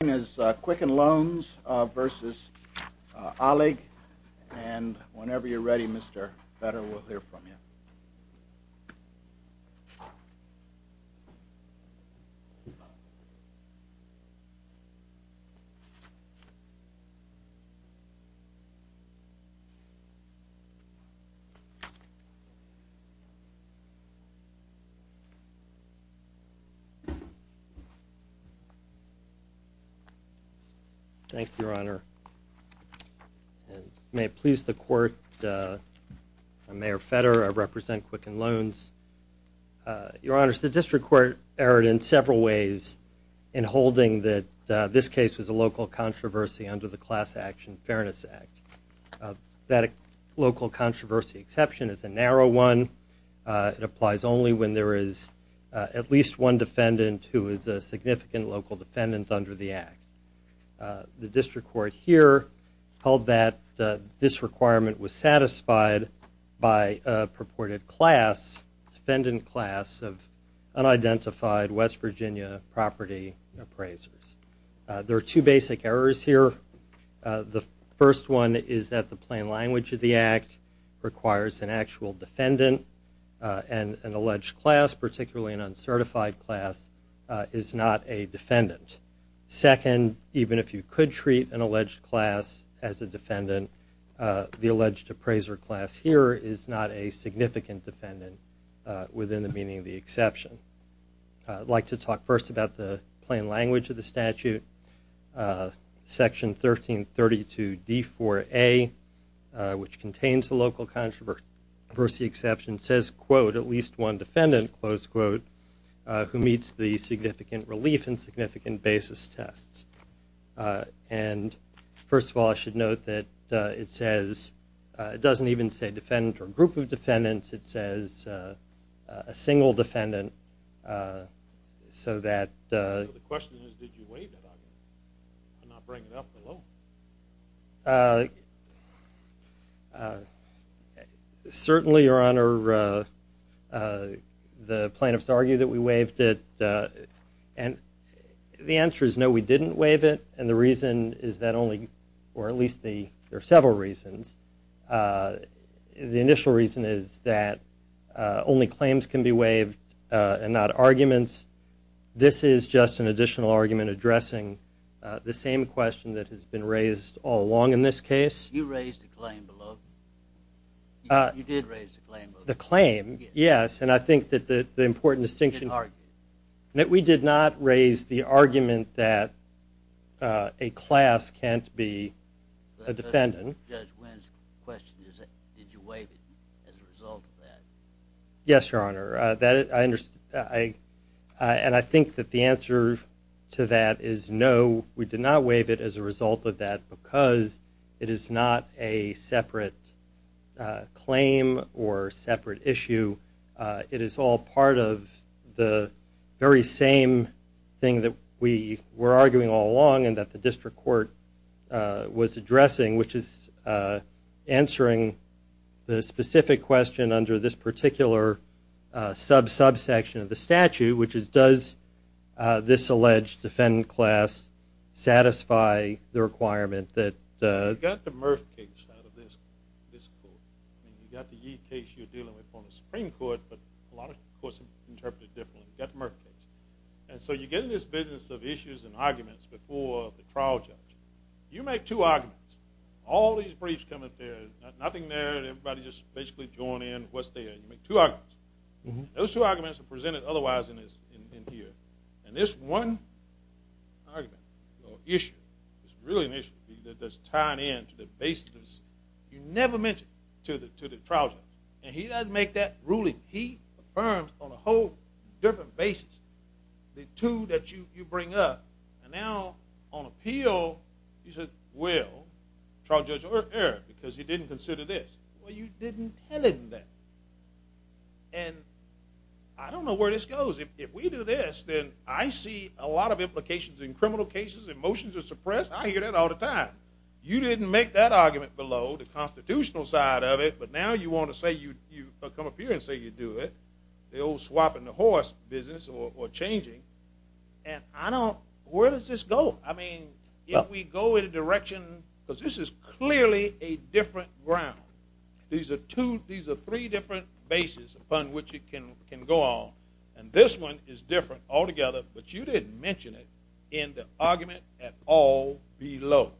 His name is Quicken Loans versus Alig and whenever you're ready, Mr. Fetter, we'll hear from you. Thank you, Your Honor. May it please the Court, I'm Mayor Fetter. I represent Quicken Loans. Your Honor, the District Court erred in several ways in holding that this case was a local controversy under the Class Action Fairness Act. That local controversy exception is a narrow one. It applies only when there is at least one defendant who is a significant local defendant under the Act. The District Court here held that this requirement was satisfied by a purported class, defendant class, of unidentified West Virginia property appraisers. There are two basic errors here. The first one is that the plain language of the Act requires an actual defendant and an alleged class, particularly an uncertified class, is not a defendant. Second, even if you could treat an alleged class as a defendant, the alleged appraiser class here is not a significant defendant within the meaning of the exception. I'd like to talk first about the plain language of the statute. Section 1332d4a, which contains the local controversy exception, says, quote, at least one defendant, close quote, who meets the significant relief and significant basis tests. And first of all, I should note that it says – it doesn't even say defendant or group of defendants. It says a single defendant so that – So the question is, did you waive that argument and not bring it up alone? Certainly, Your Honor, the plaintiffs argue that we waived it. And the answer is no, we didn't waive it. And the reason is that only – or at least there are several reasons. The initial reason is that only claims can be waived and not arguments. This is just an additional argument addressing the same question that has been raised all along in this case. You raised a claim below. You did raise a claim below. The claim, yes, and I think that the important distinction – You did argue. That we did not raise the argument that a class can't be a defendant. Judge Wynn's question is, did you waive it as a result of that? Yes, Your Honor. And I think that the answer to that is no, we did not waive it as a result of that because it is not a separate claim or separate issue. It is all part of the very same thing that we were arguing all along and that the district court was addressing, which is answering the specific question under this particular sub-subsection of the statute, which is does this alleged defendant class satisfy the requirement that – You got the Murph case out of this court. You got the Yee case you're dealing with on the Supreme Court, but a lot of courts interpret it differently. You got the Murph case. And so you get in this business of issues and arguments before the trial judge. You make two arguments. All these briefs come up there. Nothing there. Everybody just basically joined in. What's there? You make two arguments. Those two arguments are presented otherwise in here. And this one argument or issue is really an issue that's tied in to the basis. You never mention it to the trial judge. And he doesn't make that ruling. He affirms on a whole different basis the two that you bring up. And now on appeal, you said, well, trial judge, error because you didn't consider this. Well, you didn't tell him that. And I don't know where this goes. If we do this, then I see a lot of implications in criminal cases. Emotions are suppressed. I hear that all the time. You didn't make that argument below, the constitutional side of it. But now you want to say you come up here and say you do it, the old swapping the horse business or changing. And I don't – where does this go? I mean, if we go in a direction – because this is clearly a different ground. These are three different bases upon which it can go on. And this one is different altogether, but you didn't mention it in the argument at all below.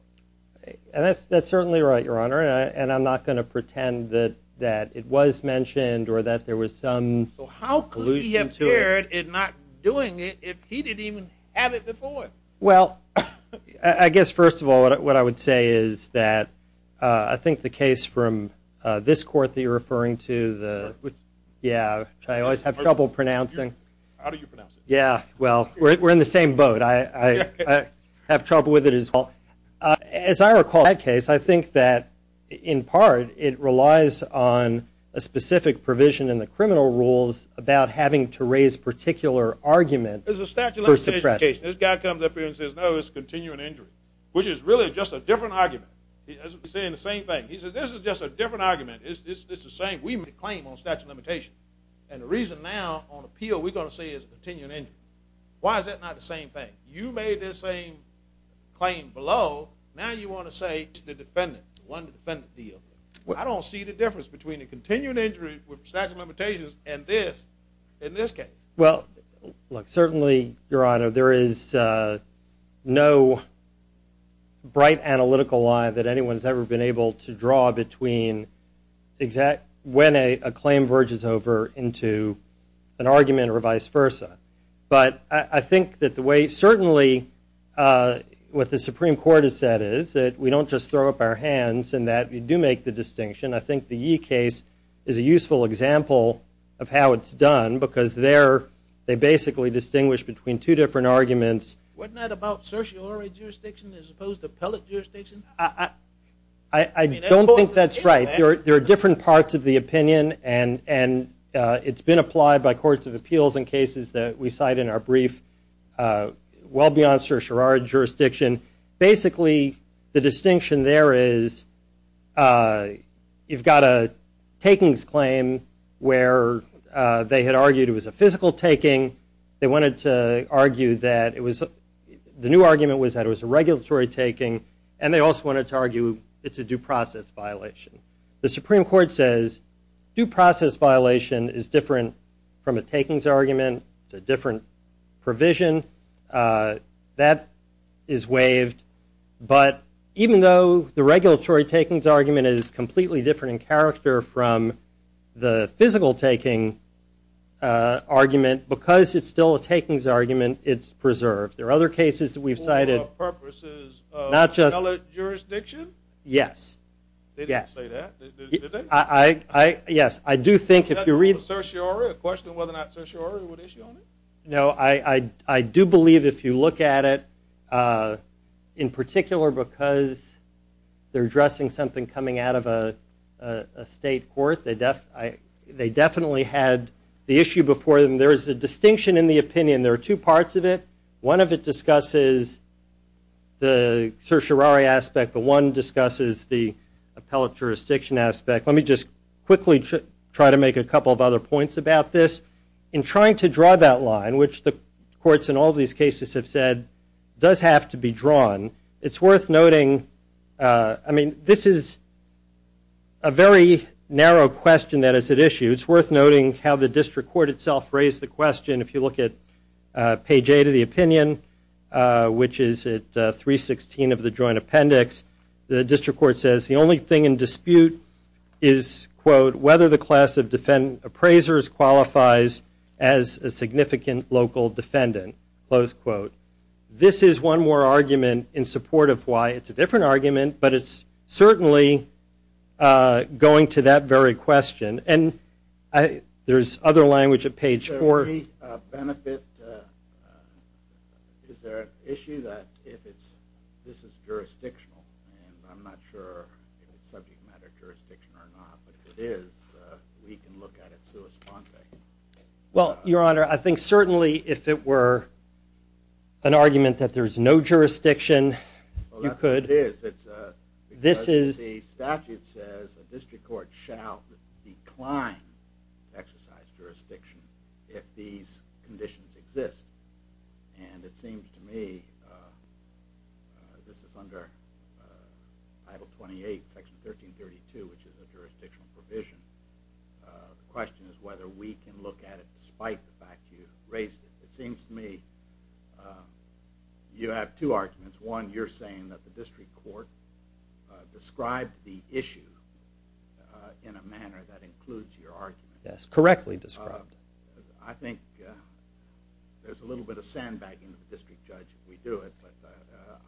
And that's certainly right, Your Honor. And I'm not going to pretend that it was mentioned or that there was some allusion to it. So how could he have erred in not doing it if he didn't even have it before? Well, I guess, first of all, what I would say is that I think the case from this court that you're referring to, which I always have trouble pronouncing. How do you pronounce it? Yeah, well, we're in the same boat. I have trouble with it as well. As I recall that case, I think that in part it relies on a specific provision in the criminal rules about having to raise particular arguments for suppression. There's a statute of limitations in the case. This guy comes up here and says, no, it's continuing injury, which is really just a different argument. He's saying the same thing. He says, this is just a different argument. It's the same. We made a claim on a statute of limitations. And the reason now on appeal we're going to say it's a continuing injury. Why is that not the same thing? You made this same claim below. Now you want to say to the defendant, won the defendant the deal. I don't see the difference between a continuing injury with statute of limitations and this in this case. Well, look, certainly, Your Honor, there is no bright analytical line that anyone's ever been able to draw between when a claim verges over into an argument or vice versa. But I think that the way certainly what the Supreme Court has said is that we don't just throw up our hands and that we do make the distinction. I think the Yee case is a useful example of how it's done because there they basically distinguish between two different arguments. Wasn't that about certiorari jurisdiction as opposed to appellate jurisdiction? I don't think that's right. There are different parts of the opinion, and it's been applied by courts of appeals in cases that we cite in our brief well beyond certiorari jurisdiction. Basically, the distinction there is you've got a takings claim where they had argued it was a physical taking. They wanted to argue that it was the new argument was that it was a regulatory taking, and they also wanted to argue it's a due process violation. The Supreme Court says due process violation is different from a takings argument. It's a different provision. That is waived. But even though the regulatory takings argument is completely different in character from the physical taking argument, because it's still a takings argument, it's preserved. There are other cases that we've cited. For purposes of appellate jurisdiction? Yes. They didn't say that, did they? Yes. I do think if you read the- Was that for certiorari, a question of whether or not certiorari would issue on it? No. I do believe if you look at it, in particular because they're addressing something coming out of a state court, they definitely had the issue before them. There is a distinction in the opinion. There are two parts of it. One of it discusses the certiorari aspect, but one discusses the appellate jurisdiction aspect. Let me just quickly try to make a couple of other points about this. In trying to draw that line, which the courts in all these cases have said does have to be drawn, it's worth noting-I mean, this is a very narrow question that is at issue. It's worth noting how the district court itself raised the question. If you look at page 8 of the opinion, which is at 316 of the joint appendix, the district court says the only thing in dispute is, quote, whether the class of appraisers qualifies as a significant local defendant, close quote. This is one more argument in support of why it's a different argument, but it's certainly going to that very question. And there's other language at page 4. Is there an issue that this is jurisdictional? And I'm not sure if it's subject matter jurisdiction or not, but if it is, we can look at it sua sponte. Well, Your Honor, I think certainly if it were an argument that there's no jurisdiction, you could. The statute says a district court shall decline to exercise jurisdiction if these conditions exist. And it seems to me this is under Title 28, Section 1332, which is a jurisdictional provision. The question is whether we can look at it despite the fact you raised it. It seems to me you have two arguments. One, you're saying that the district court described the issue in a manner that includes your argument. Yes, correctly described. I think there's a little bit of sandbagging of the district judge if we do it, but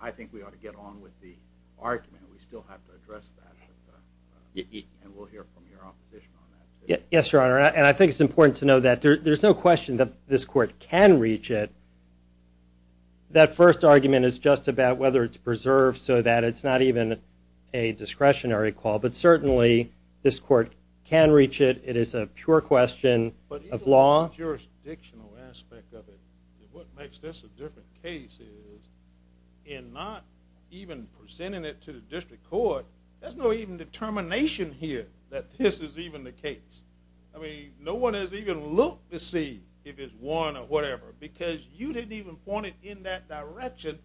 I think we ought to get on with the argument. We still have to address that, and we'll hear from your opposition on that. Yes, Your Honor, and I think it's important to know that there's no question that this court can reach it. That first argument is just about whether it's preserved so that it's not even a discretionary call, but certainly this court can reach it. It is a pure question of law. But even the jurisdictional aspect of it, what makes this a different case is in not even presenting it to the district court, there's no even determination here that this is even the case. I mean, no one has even looked to see if it's one or whatever because you didn't even point it in that direction,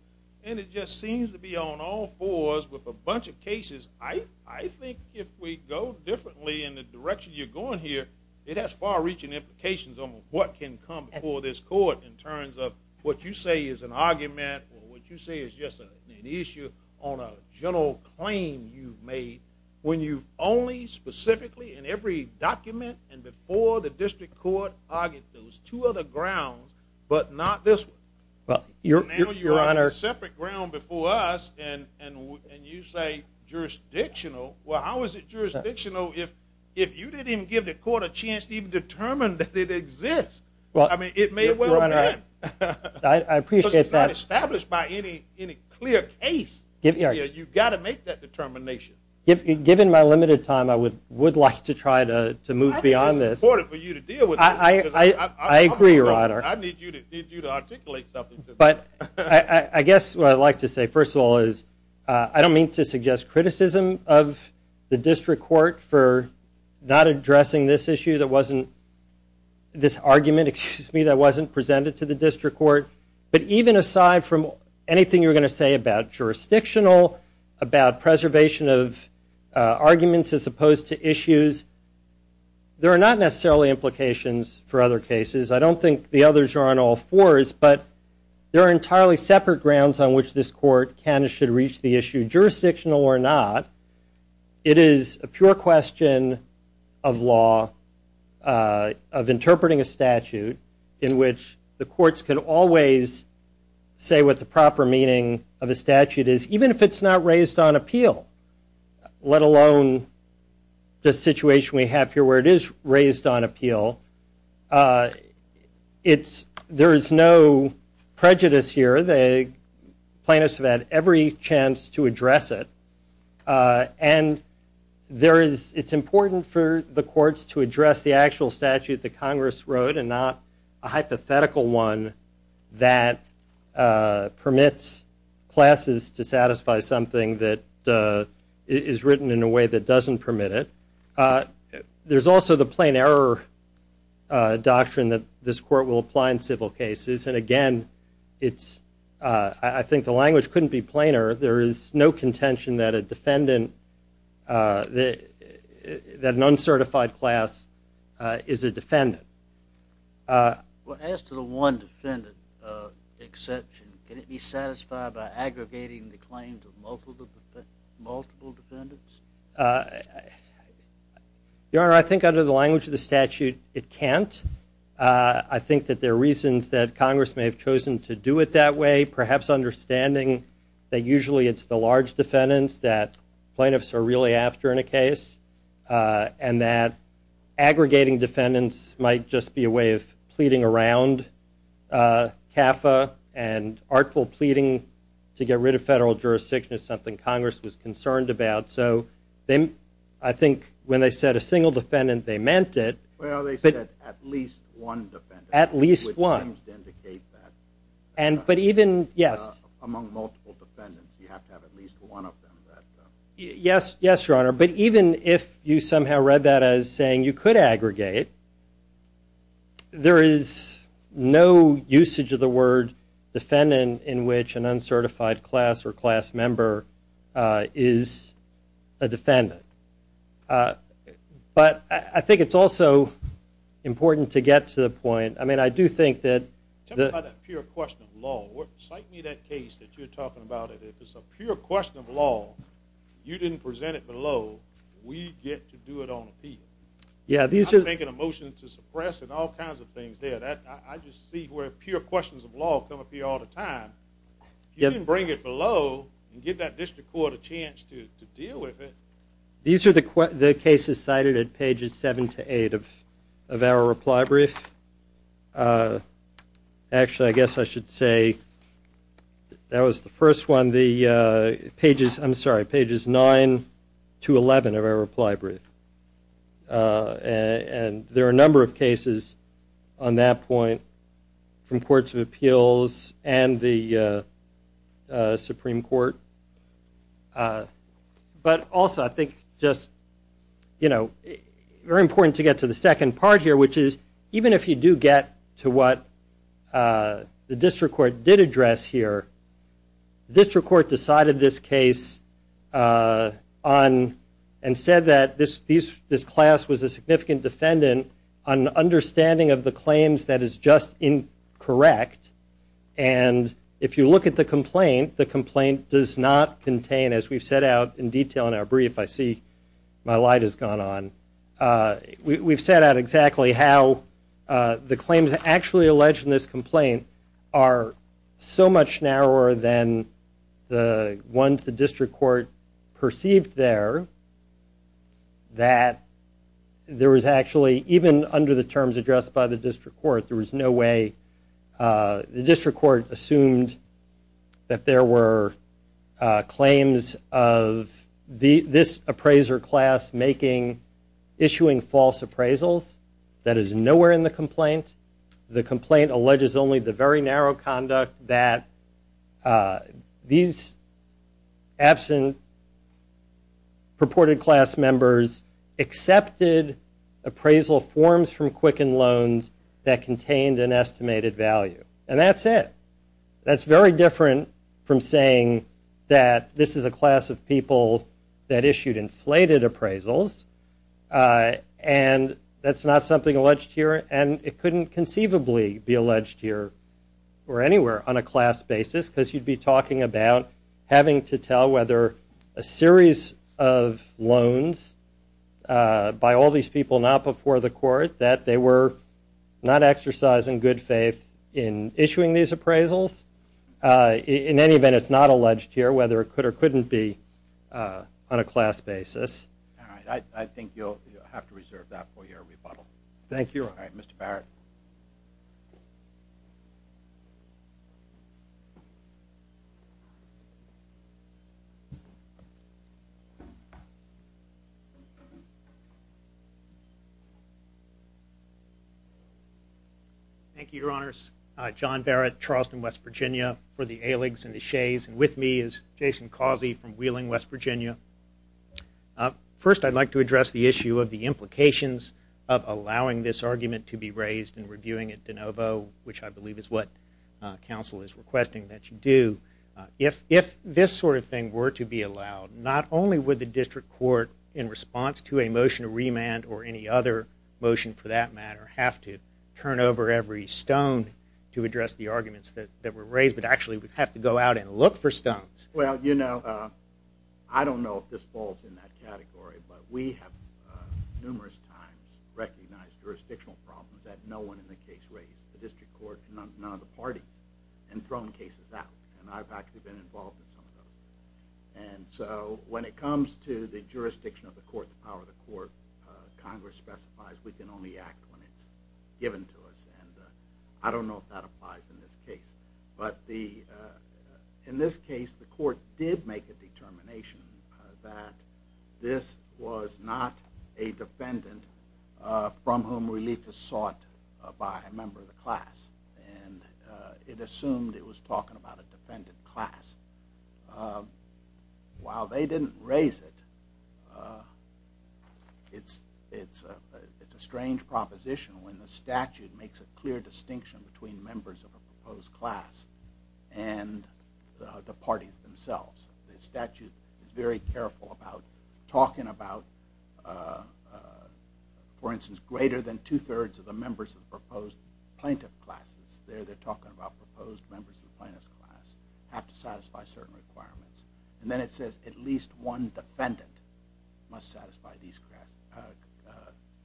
and it just seems to be on all fours with a bunch of cases. I think if we go differently in the direction you're going here, it has far-reaching implications on what can come before this court in terms of what you say is an argument or what you say is just an issue on a general claim you've made when you've only specifically in every document and before the district court argued those two other grounds, but not this one. Now you're on a separate ground before us, and you say jurisdictional. Well, how is it jurisdictional if you didn't even give the court a chance to even determine that it exists? I mean, it may well have been. I appreciate that. Because it's not established by any clear case. You've got to make that determination. Given my limited time, I would like to try to move beyond this. I think it's important for you to deal with this. I agree, Your Honor. I need you to articulate something to me. I guess what I'd like to say, first of all, is I don't mean to suggest criticism of the district court for not addressing this argument that wasn't presented to the district court, but even aside from anything you were going to say about jurisdictional, about preservation of arguments as opposed to issues, there are not necessarily implications for other cases. I don't think the others are on all fours, but there are entirely separate grounds on which this court should reach the issue, jurisdictional or not. It is a pure question of law, of interpreting a statute, in which the courts can always say what the proper meaning of a statute is, even if it's not raised on appeal, let alone the situation we have here where it is raised on appeal. There is no prejudice here. Plaintiffs have had every chance to address it, and it's important for the courts to address the actual statute that Congress wrote and not a hypothetical one that permits classes to satisfy something that is written in a way that doesn't permit it. There's also the plain error doctrine that this court will apply in civil cases, and again, I think the language couldn't be plainer. There is no contention that an uncertified class is a defendant. Well, as to the one defendant exception, can it be satisfied by aggregating the claims of multiple defendants? Your Honor, I think under the language of the statute, it can't. I think that there are reasons that Congress may have chosen to do it that way, perhaps understanding that usually it's the large defendants that plaintiffs are really after in a case, and that aggregating defendants might just be a way of pleading around CAFA, and artful pleading to get rid of federal jurisdiction is something Congress was concerned about. I think when they said a single defendant, they meant it. Well, they said at least one defendant, which seems to indicate that among multiple defendants, you have to have at least one of them. Yes, Your Honor, but even if you somehow read that as saying you could aggregate, there is no usage of the word defendant in which an uncertified class or class member is a defendant. But I think it's also important to get to the point. I mean, I do think that the – Tell me about that pure question of law. Cite me that case that you're talking about. If it's a pure question of law, you didn't present it below, we get to do it on appeal. I'm making a motion to suppress and all kinds of things there. I just see where pure questions of law come up here all the time. You didn't bring it below and give that district court a chance to deal with it. These are the cases cited at pages 7 to 8 of our reply brief. Actually, I guess I should say that was the first one, pages 9 to 11 of our reply brief. And there are a number of cases on that point from courts of appeals and the Supreme Court. But also I think just, you know, very important to get to the second part here, which is even if you do get to what the district court did address here, district court decided this case and said that this class was a significant defendant on understanding of the claims that is just incorrect. And if you look at the complaint, the complaint does not contain, as we've set out in detail in our brief, I see my light has gone on, we've set out exactly how the claims actually alleged in this complaint are so much narrower than the ones the district court perceived there that there was actually, even under the terms addressed by the district court, there was no way the district court assumed that there were claims of this appraiser class issuing false appraisals. That is nowhere in the complaint. The complaint alleges only the very narrow conduct that these absent purported class members accepted appraisal forms from Quicken Loans that contained an estimated value. And that's it. That's very different from saying that this is a class of people that issued inflated appraisals, and that's not something alleged here, and it couldn't conceivably be alleged here or anywhere on a class basis because you'd be talking about having to tell whether a series of loans by all these people not before the court that they were not exercising good faith in issuing these appraisals. In any event, it's not alleged here whether it could or couldn't be on a class basis. I think you'll have to reserve that for your rebuttal. Mr. Barrett. Thank you, Your Honors. John Barrett, Charleston, West Virginia, for the ayligs and the shays. And with me is Jason Causey from Wheeling, West Virginia. First, I'd like to address the issue of the implications of allowing this argument to be raised in reviewing at DeNovo, which I believe is what we're going to be reviewing today. Council is requesting that you do. If this sort of thing were to be allowed, not only would the district court, in response to a motion to remand or any other motion for that matter, have to turn over every stone to address the arguments that were raised, but actually would have to go out and look for stones. Well, you know, I don't know if this falls in that category, but we have numerous times recognized jurisdictional problems that no one in the case raised. The district court, none of the parties, and thrown cases out. And I've actually been involved in some of those. And so when it comes to the jurisdiction of the court, the power of the court, Congress specifies we can only act when it's given to us. And I don't know if that applies in this case. But in this case, the court did make a determination that this was not a defendant from whom relief is sought by a member of the class. And it assumed it was talking about a defendant class. While they didn't raise it, it's a strange proposition when the statute makes a clear distinction between members of a proposed class and the parties themselves. The statute is very careful about talking about, for instance, greater than two-thirds of the members of the proposed plaintiff classes. There they're talking about proposed members of the plaintiff's class have to satisfy certain requirements. And then it says at least one defendant must satisfy these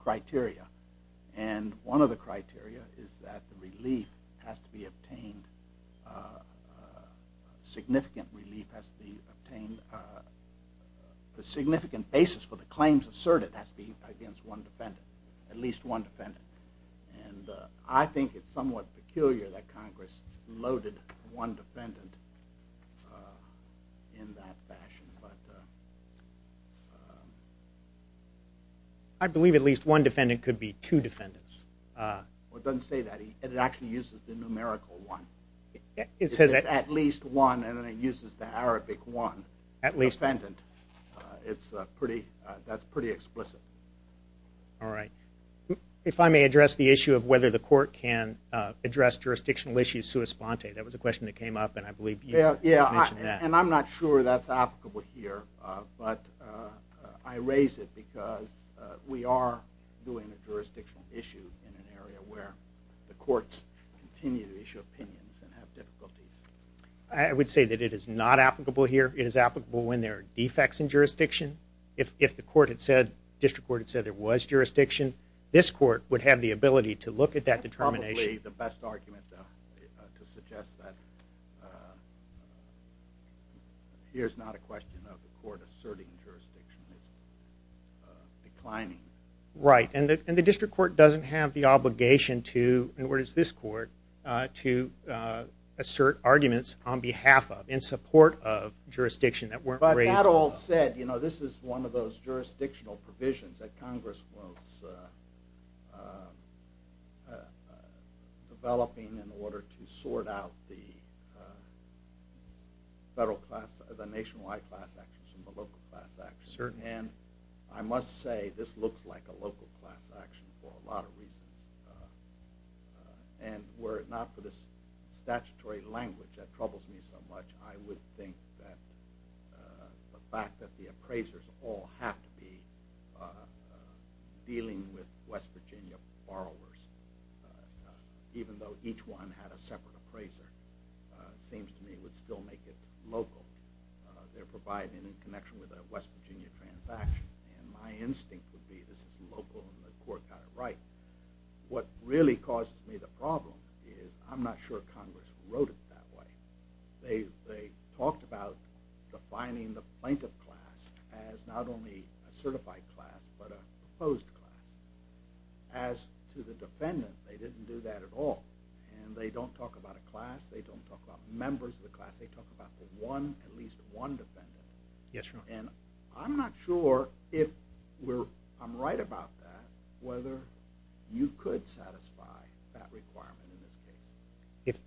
criteria. And one of the criteria is that the relief has to be obtained, significant relief has to be obtained, the significant basis for the claims asserted has to be against one defendant, at least one defendant. And I think it's somewhat peculiar that Congress loaded one defendant in that fashion. I believe at least one defendant could be two defendants. It doesn't say that. It actually uses the numerical one. It says at least one, and then it uses the Arabic one, defendant. That's pretty explicit. All right. If I may address the issue of whether the court can address jurisdictional issues sua sponte. That was a question that came up, and I believe you mentioned that. Yeah, and I'm not sure that's applicable here. But I raise it because we are doing a jurisdictional issue in an area where the courts continue to issue opinions and have difficulties. I would say that it is not applicable here. It is applicable when there are defects in jurisdiction. If the district court had said there was jurisdiction, this court would have the ability to look at that determination. That's probably the best argument to suggest that here's not a question of the court asserting jurisdiction. It's declining. Right, and the district court doesn't have the obligation to, nor does this court, to assert arguments on behalf of, in support of jurisdiction that weren't raised. But that all said, this is one of those jurisdictional provisions that Congress was developing in order to sort out the federal class, the nationwide class actions and the local class actions. And I must say this looks like a local class action for a lot of reasons. And were it not for the statutory language that troubles me so much, I would think that the fact that the appraisers all have to be dealing with West Virginia borrowers, even though each one had a separate appraiser, seems to me would still make it local. They're providing in connection with a West Virginia transaction. And my instinct would be this is local and the court got it right. What really causes me the problem is I'm not sure Congress wrote it that way. They talked about defining the plaintiff class as not only a certified class, but a proposed class. As to the defendant, they didn't do that at all. And they don't talk about a class. They don't talk about members of the class. They talk about the one, at least one defendant. And I'm not sure if I'm right about that, whether you could satisfy that requirement in this case.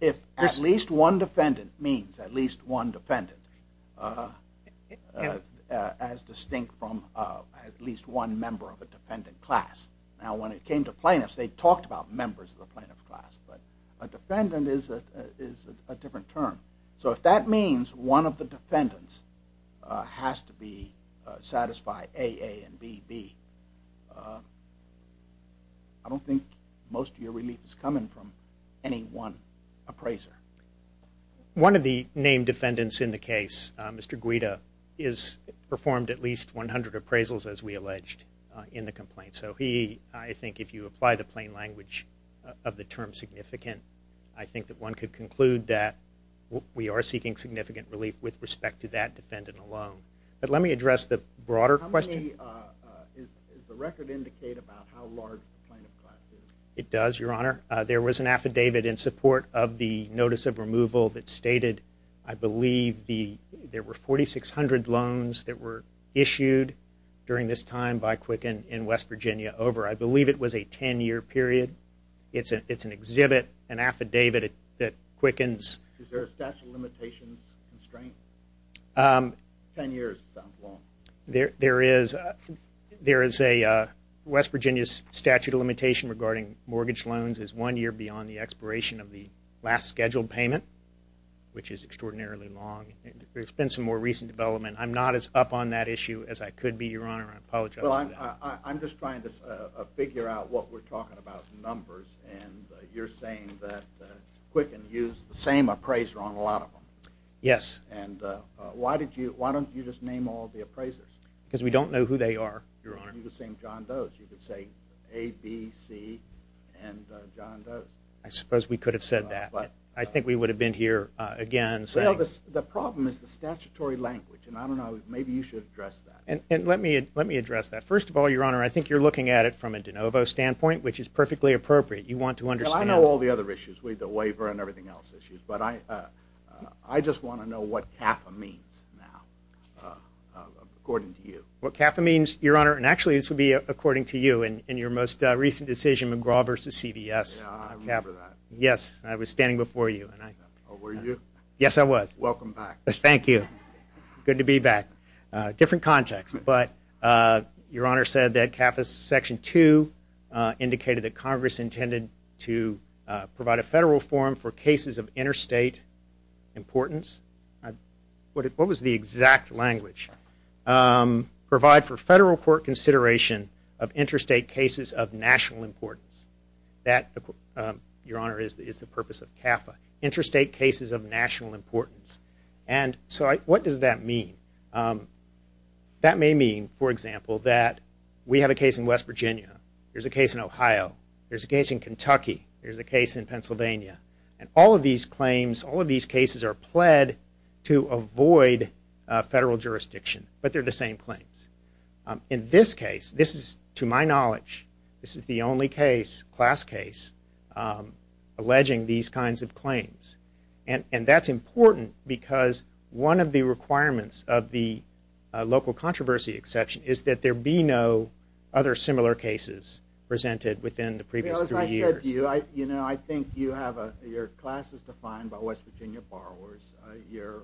If at least one defendant means at least one defendant, as distinct from at least one member of a defendant class. Now when it came to plaintiffs, they talked about members of the plaintiff class, but a defendant is a different term. So if that means one of the defendants has to satisfy AA and BB, I don't think most of your relief is coming from any one appraiser. One of the named defendants in the case, Mr. Guida, has performed at least 100 appraisals as we alleged in the complaint. So he, I think if you apply the plain language of the term significant, I think that one could conclude that we are seeking significant relief with respect to that defendant alone. But let me address the broader question. Does the record indicate about how large the plaintiff class is? It does, Your Honor. There was an affidavit in support of the notice of removal that stated, I believe there were 4,600 loans that were issued during this time by Quicken in West Virginia. I believe it was a 10-year period. It's an exhibit, an affidavit that Quicken's… Is there a statute of limitations constraint? 10 years sounds long. There is a West Virginia statute of limitation regarding mortgage loans as one year beyond the expiration of the last scheduled payment, which is extraordinarily long. There's been some more recent development. I'm not as up on that issue as I could be, Your Honor. I apologize for that. Well, I'm just trying to figure out what we're talking about numbers, and you're saying that Quicken used the same appraiser on a lot of them. Yes. And why don't you just name all the appraisers? Because we don't know who they are, Your Honor. You could say John Does. You could say A, B, C, and John Does. I suppose we could have said that. I think we would have been here again saying… Well, the problem is the statutory language, and I don't know. Maybe you should address that. And let me address that. First of all, Your Honor, I think you're looking at it from a de novo standpoint, which is perfectly appropriate. You want to understand… Well, I know all the other issues with the waiver and everything else issues, but I just want to know what CAFA means now, according to you. What CAFA means, Your Honor, and actually this would be according to you in your most recent decision, McGraw v. CVS. Yeah, I remember that. Yes, I was standing before you. Oh, were you? Yes, I was. Welcome back. Thank you. Good to be back. Different context, but Your Honor said that CAFA Section 2 indicated that Congress intended to provide a federal forum for cases of interstate importance. What was the exact language? Provide for federal court consideration of interstate cases of national importance. That, Your Honor, is the purpose of CAFA, interstate cases of national importance. And so what does that mean? That may mean, for example, that we have a case in West Virginia, there's a case in Ohio, there's a case in Kentucky, there's a case in Pennsylvania, and all of these claims, all of these cases are pled to avoid federal jurisdiction, but they're the same claims. In this case, this is, to my knowledge, this is the only case, class case, alleging these kinds of claims. And that's important because one of the requirements of the local controversy exception is that there be no other similar cases presented within the previous three years. As I said to you, I think you have your classes defined by West Virginia borrowers, your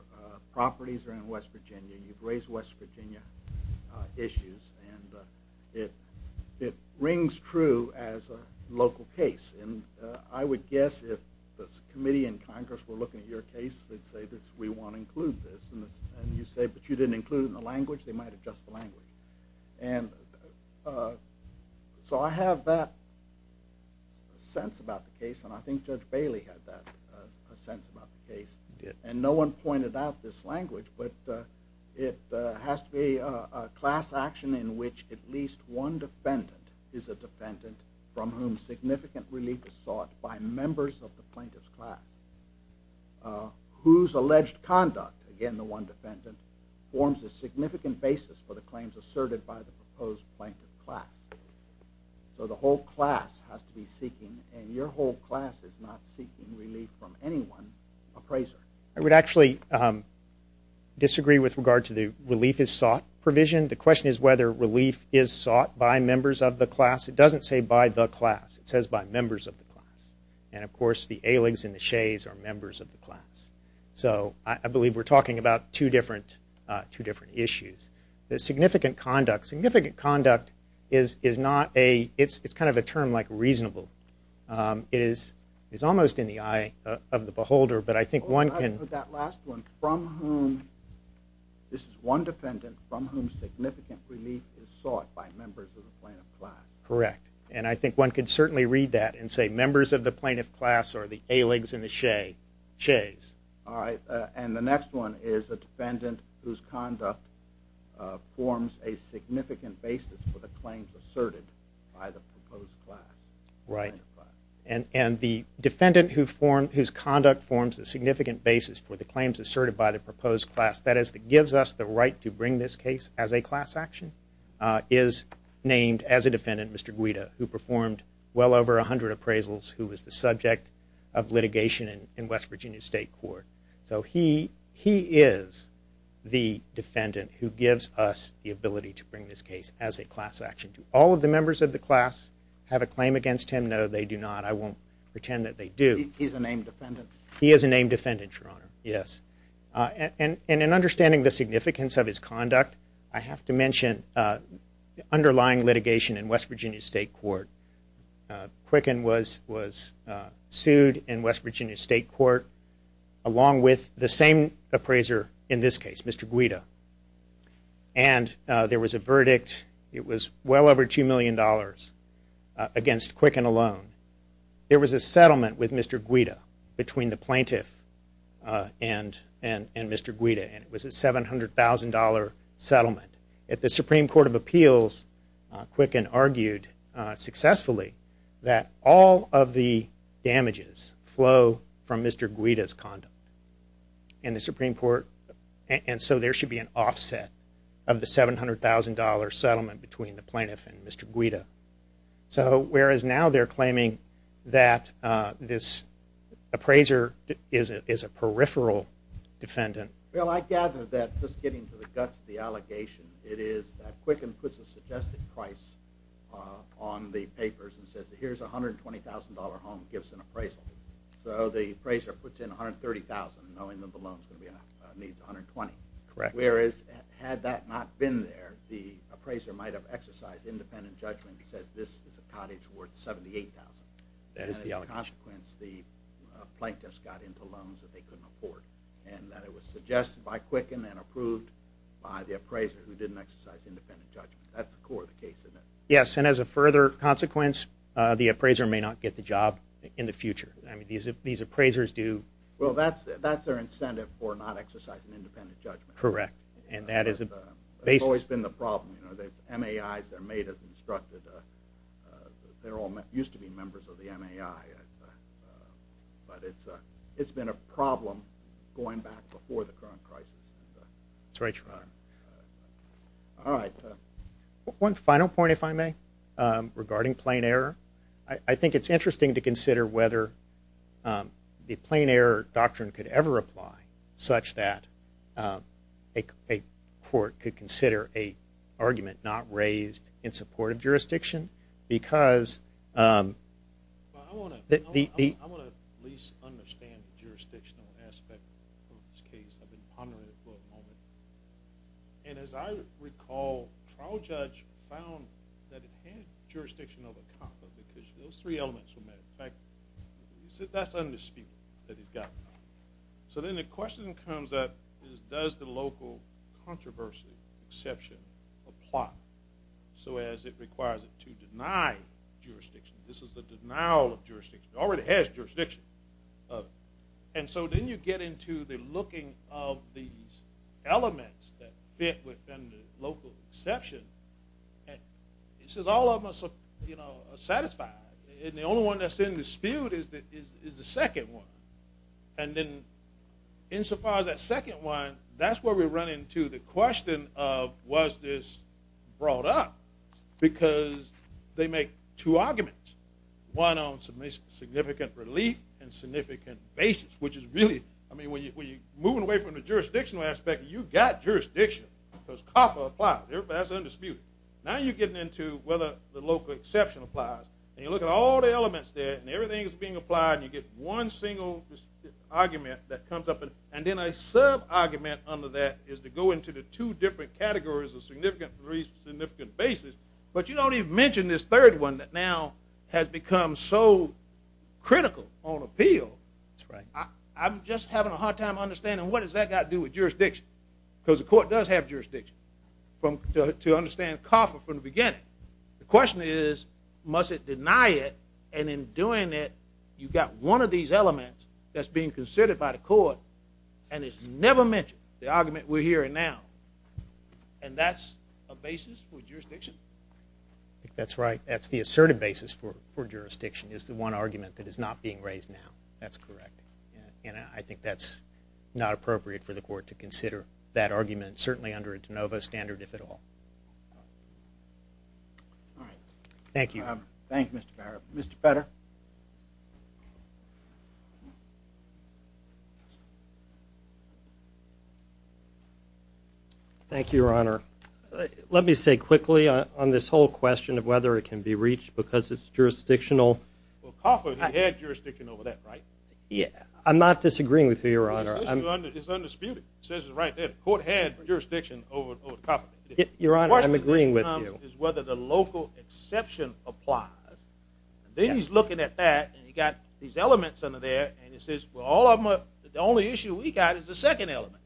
properties are in West Virginia, you've raised West Virginia issues, and it rings true as a local case. And I would guess if the committee in Congress were looking at your case, they'd say, we want to include this. And you say, but you didn't include it in the language. They might adjust the language. And so I have that sense about the case, and I think Judge Bailey had that sense about the case. And no one pointed out this language, but it has to be a class action in which at least one defendant is a defendant from whom significant relief is sought by members of the plaintiff's class whose alleged conduct, again, the one defendant, forms a significant basis for the claims asserted by the proposed plaintiff's class. So the whole class has to be seeking, and your whole class is not seeking relief from anyone appraiser. I would actually disagree with regard to the relief is sought provision. The question is whether relief is sought by members of the class. It doesn't say by the class. It says by members of the class. And, of course, the Aligs and the Shays are members of the class. So I believe we're talking about two different issues. The significant conduct. Significant conduct is not a – it's kind of a term like reasonable. It is almost in the eye of the beholder, but I think one can – That last one, from whom – this is one defendant from whom significant relief is sought by members of the plaintiff's class. Correct. And I think one can certainly read that and say members of the plaintiff's class are the Aligs and the Shays. All right. And the next one is a defendant whose conduct forms a significant basis for the claims asserted by the proposed class. Right. And the defendant whose conduct forms a significant basis for the claims asserted by the proposed class, that is, that gives us the right to bring this case as a class action, is named as a defendant, Mr. Guida, who performed well over 100 appraisals, who was the subject of litigation in West Virginia State Court. So he is the defendant who gives us the ability to bring this case as a class action. Do all of the members of the class have a claim against him? No, they do not. I won't pretend that they do. He's a named defendant? He is a named defendant, Your Honor. Yes. And in understanding the significance of his conduct, I have to mention underlying litigation in West Virginia State Court. Quicken was sued in West Virginia State Court along with the same appraiser in this case, Mr. Guida. And there was a verdict. It was well over $2 million against Quicken alone. There was a settlement with Mr. Guida between the plaintiff and Mr. Guida, and it was a $700,000 settlement. The Supreme Court of Appeals, Quicken argued successfully that all of the damages flow from Mr. Guida's conduct. And so there should be an offset of the $700,000 settlement between the plaintiff and Mr. Guida. So whereas now they're claiming that this appraiser is a peripheral defendant. Well, I gather that just getting to the guts of the allegation, it is that Quicken puts a suggested price on the papers and says, here's a $120,000 home, gives an appraisal. So the appraiser puts in $130,000, knowing that the loan is going to be, needs $120,000. Correct. Whereas had that not been there, the appraiser might have exercised independent judgment and says this is a cottage worth $78,000. That is the allegation. And as a consequence, the plaintiffs got into loans that they couldn't afford, and that it was suggested by Quicken and approved by the appraiser who didn't exercise independent judgment. That's the core of the case, isn't it? Yes, and as a further consequence, the appraiser may not get the job in the future. I mean, these appraisers do. Well, that's their incentive for not exercising independent judgment. Correct, and that is a basis. It's always been the problem. You know, MAIs, they're made as instructed. They're all used to be members of the MAI. But it's been a problem going back before the current crisis. That's right, Your Honor. All right. One final point, if I may, regarding plain error. I think it's interesting to consider whether the plain error doctrine could ever apply such that a court could consider an argument not raised in support of jurisdiction because the- I want to at least understand the jurisdictional aspect of this case. I've been pondering it for a moment. And as I recall, trial judge found that it had jurisdiction of a compa because those three elements were met. In fact, that's undisputed that it got a compa. So then the question that comes up is does the local controversy exception apply so as it requires it to deny jurisdiction? This is the denial of jurisdiction. It already has jurisdiction. And so then you get into the looking of these elements that fit within the local exception. And it says all of them are satisfied. And the only one that's in dispute is the second one. And then insofar as that second one, that's where we run into the question of was this brought up because they make two arguments, one on significant relief and significant basis, which is really, I mean, when you're moving away from the jurisdictional aspect, you've got jurisdiction because compa applies. That's undisputed. Now you're getting into whether the local exception applies. And you look at all the elements there, and everything is being applied, and you get one single argument that comes up. And then a sub-argument under that is to go into the two different categories of significant relief and significant basis. But you don't even mention this third one that now has become so critical on appeal. That's right. I'm just having a hard time understanding what does that got to do with jurisdiction because the court does have jurisdiction to understand COFA from the beginning. The question is must it deny it? And in doing it, you've got one of these elements that's being considered by the court and it's never mentioned, the argument we're hearing now. And that's a basis for jurisdiction? That's right. That's the assertive basis for jurisdiction is the one argument that is not being raised now. That's correct. And I think that's not appropriate for the court to consider that argument, certainly under a de novo standard, if at all. All right. Thank you. Thank you, Mr. Barrett. Mr. Petter. Thank you, Your Honor. Let me say quickly on this whole question of whether it can be reached because it's jurisdictional. Well, COFA had jurisdiction over that, right? I'm not disagreeing with you, Your Honor. It's undisputed. It says it right there. The court had jurisdiction over COFA. Your Honor, I'm agreeing with you. The question is whether the local exception applies. And then he's looking at that and he's got these elements under there and he says, well, the only issue we've got is the second element.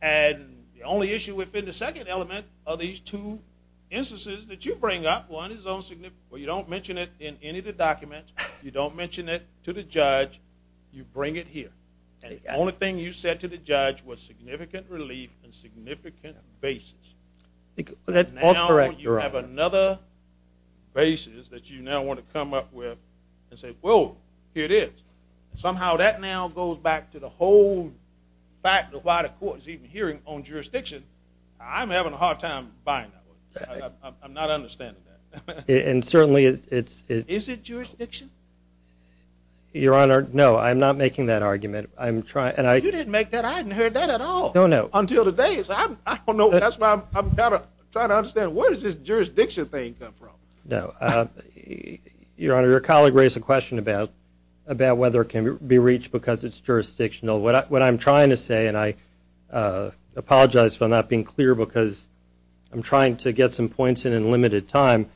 And the only issue within the second element are these two instances that you bring up. One is, well, you don't mention it in any of the documents. You don't mention it to the judge. You bring it here. And the only thing you said to the judge was significant relief and significant basis. Now you have another basis that you now want to come up with and say, well, here it is. Somehow that now goes back to the whole fact of why the court is even hearing on jurisdiction. I'm having a hard time buying that. I'm not understanding that. And certainly it's – Is it jurisdiction? Your Honor, no, I'm not making that argument. You didn't make that. I hadn't heard that at all until today. I don't know. That's why I'm trying to understand where does this jurisdiction thing come from? No. Your Honor, your colleague raised a question about whether it can be reached because it's jurisdictional. What I'm trying to say, and I apologize for not being clear because I'm trying to get some points in in limited time,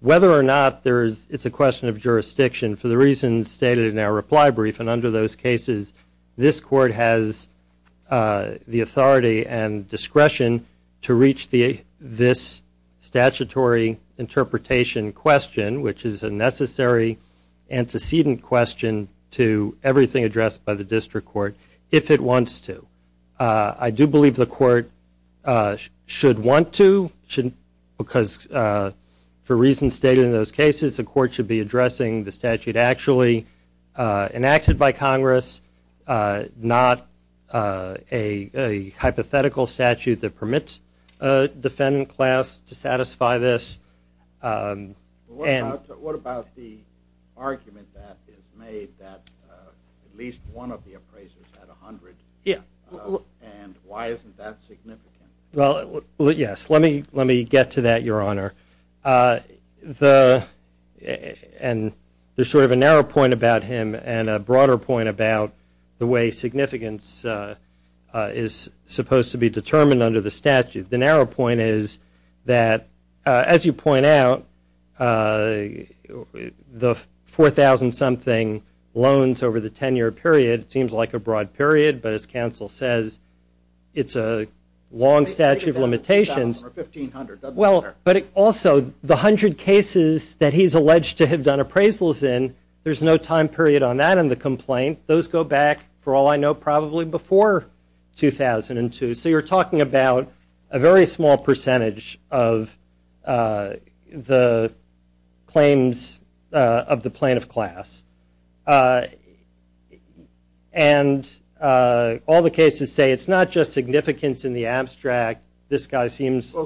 whether or not it's a question of jurisdiction for the reasons stated in our reply brief, and under those cases this court has the authority and discretion to reach this statutory interpretation question, which is a necessary antecedent question to everything addressed by the district court, if it wants to. I do believe the court should want to because for reasons stated in those cases, the court should be addressing the statute actually enacted by Congress, not a hypothetical statute that permits a defendant class to satisfy this. What about the argument that is made that at least one of the appraisers had 100? Yeah. And why isn't that significant? Well, yes. Let me get to that, Your Honor. And there's sort of a narrow point about him and a broader point about the way significance is supposed to be determined under the statute. The narrow point is that, as you point out, the 4,000-something loans over the 10-year period seems like a broad period, but as counsel says, it's a long statute of limitations. But also the 100 cases that he's alleged to have done appraisals in, there's no time period on that in the complaint. Those go back, for all I know, probably before 2002. So you're talking about a very small percentage of the claims of the plaintiff class. And all the cases say it's not just significance in the abstract. Well,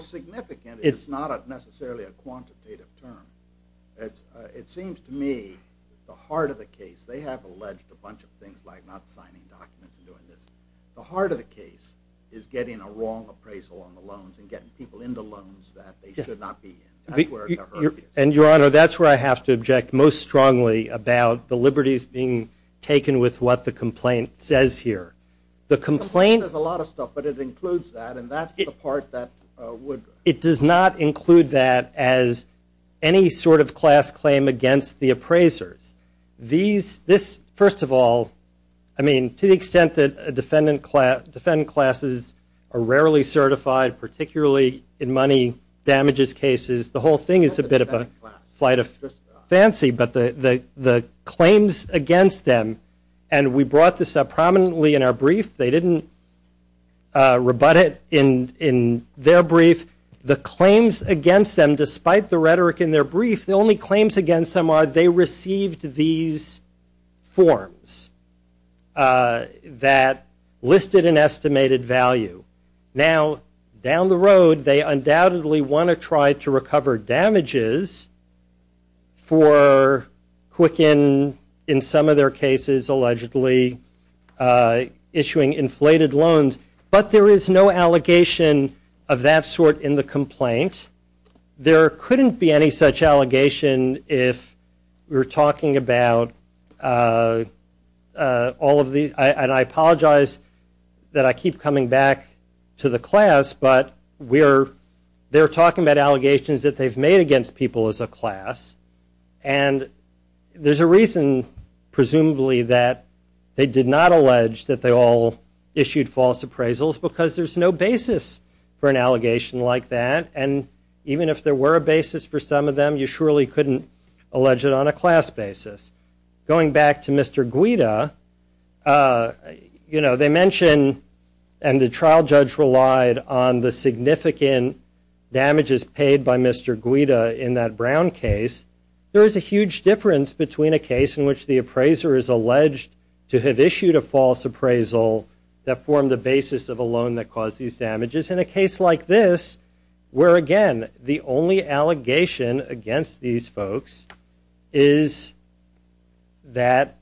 significant is not necessarily a quantitative term. It seems to me the heart of the case, they have alleged a bunch of things like not signing documents and doing this. The heart of the case is getting a wrong appraisal on the loans and getting people into loans that they should not be in. That's where the hurt is. And, Your Honor, that's where I have to object most strongly about the liberties being taken with what the complaint says here. The complaint says a lot of stuff, but it includes that, and that's the part that would It does not include that as any sort of class claim against the appraisers. This, first of all, I mean, to the extent that defendant classes are rarely certified, particularly in money damages cases, the whole thing is a bit of a flight of fancy. But the claims against them, and we brought this up prominently in our brief. They didn't rebut it in their brief. The claims against them, despite the rhetoric in their brief, the only claims against them are they received these forms that listed an estimated value. Now, down the road, they undoubtedly want to try to recover damages for Quicken, in some of their cases, allegedly issuing inflated loans. But there is no allegation of that sort in the complaint. There couldn't be any such allegation if we're talking about all of these. And I apologize that I keep coming back to the class, but they're talking about allegations that they've made against people as a class. And there's a reason, presumably, that they did not allege that they all issued false appraisals, because there's no basis for an allegation like that. And even if there were a basis for some of them, you surely couldn't allege it on a class basis. Going back to Mr. Guida, you know, they mention, and the trial judge relied on the significant damages paid by Mr. Guida in that Brown case. There is a huge difference between a case in which the appraiser is alleged to have issued a false appraisal that formed the basis of a loan that caused these damages, and a case like this, where, again, the only allegation against these folks is that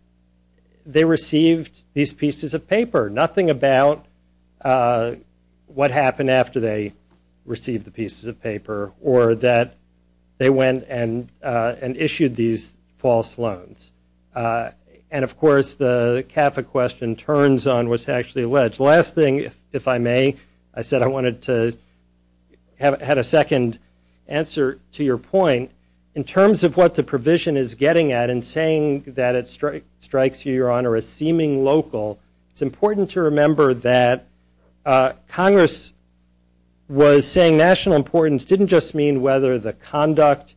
they received these pieces of paper, nothing about what happened after they received the pieces of paper, or that they went and issued these false loans. And, of course, the CAFA question turns on what's actually alleged. Last thing, if I may, I said I wanted to have a second answer to your point. In terms of what the provision is getting at in saying that it strikes you, Your Honor, as seeming local, it's important to remember that Congress was saying national importance didn't just mean whether the conduct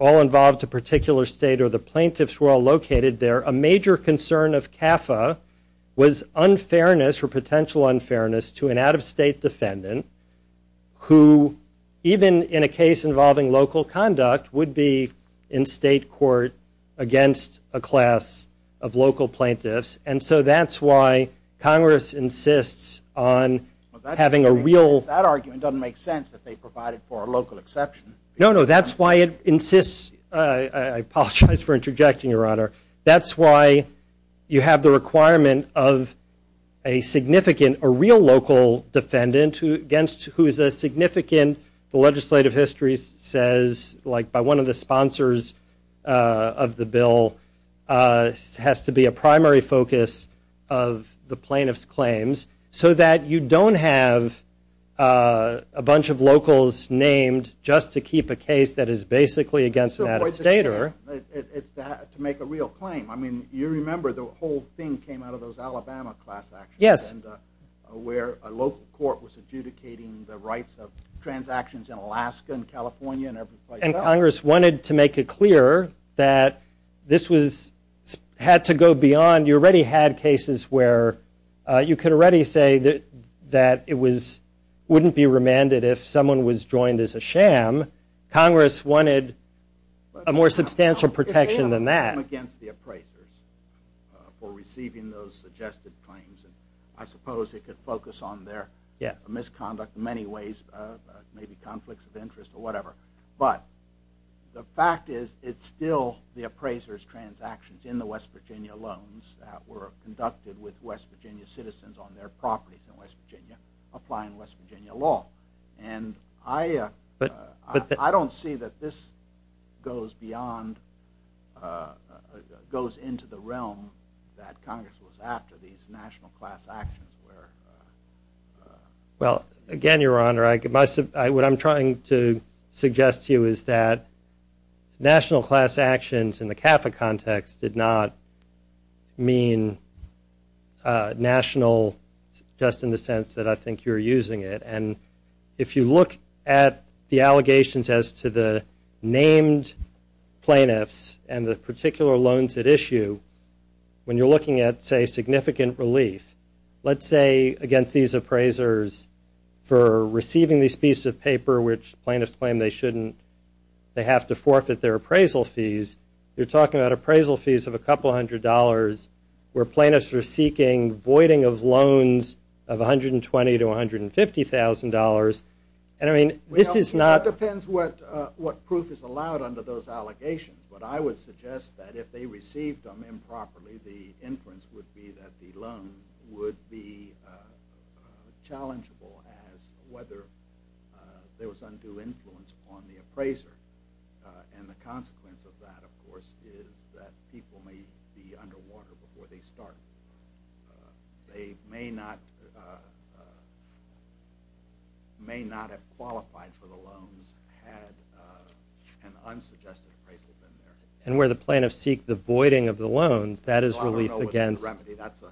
all involved a particular state or the plaintiffs were all located there. A major concern of CAFA was unfairness or potential unfairness to an out-of-state defendant who, even in a case involving local conduct, would be in state court against a class of local plaintiffs. And so that's why Congress insists on having a real— That argument doesn't make sense if they provide it for a local exception. No, no, that's why it insists—I apologize for interjecting, Your Honor. That's why you have the requirement of a significant—a real local defendant who is a significant— the legislative history says, like by one of the sponsors of the bill, has to be a primary focus of the plaintiff's claims, so that you don't have a bunch of locals named just to keep a case that is basically against an out-of-stater. It's to make a real claim. I mean, you remember the whole thing came out of those Alabama class actions, where a local court was adjudicating the rights of transactions in Alaska and California and every place else. And Congress wanted to make it clear that this had to go beyond— you already had cases where you could already say that it wouldn't be remanded if someone was joined as a sham. Congress wanted a more substantial protection than that. It came against the appraisers for receiving those suggested claims. I suppose it could focus on their misconduct in many ways, maybe conflicts of interest or whatever. But the fact is, it's still the appraisers' transactions in the West Virginia loans that were conducted with West Virginia citizens on their properties in West Virginia, applying West Virginia law. But I don't see that this goes into the realm that Congress was after, these national class actions. Well, again, Your Honor, what I'm trying to suggest to you is that national class actions in the CAFA context did not mean national just in the sense that I think you're using it. And if you look at the allegations as to the named plaintiffs and the particular loans at issue, when you're looking at, say, significant relief, let's say against these appraisers for receiving these pieces of paper which plaintiffs claim they shouldn't, they have to forfeit their appraisal fees, you're talking about appraisal fees of a couple hundred dollars where plaintiffs are seeking voiding of loans of $120,000 to $150,000. And I mean, this is not... Well, it depends what proof is allowed under those allegations. But I would suggest that if they received them improperly, the inference would be that the loan would be challengeable as whether there was undue influence on the appraiser. And the consequence of that, of course, is that people may be underwater before they start. They may not have qualified for the loans had an unsuggested appraisal been there. And where the plaintiffs seek the voiding of the loans, that is relief against... Well, I don't know what the remedy. That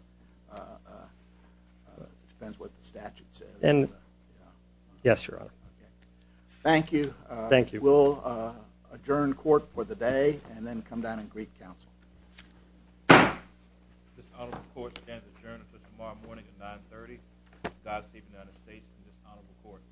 depends what the statute says. Yes, Your Honor. Thank you. Thank you. We'll adjourn court for the day and then come down and greet counsel. This honorable court stands adjourned until tomorrow morning at 9.30. God save the United States and this honorable court.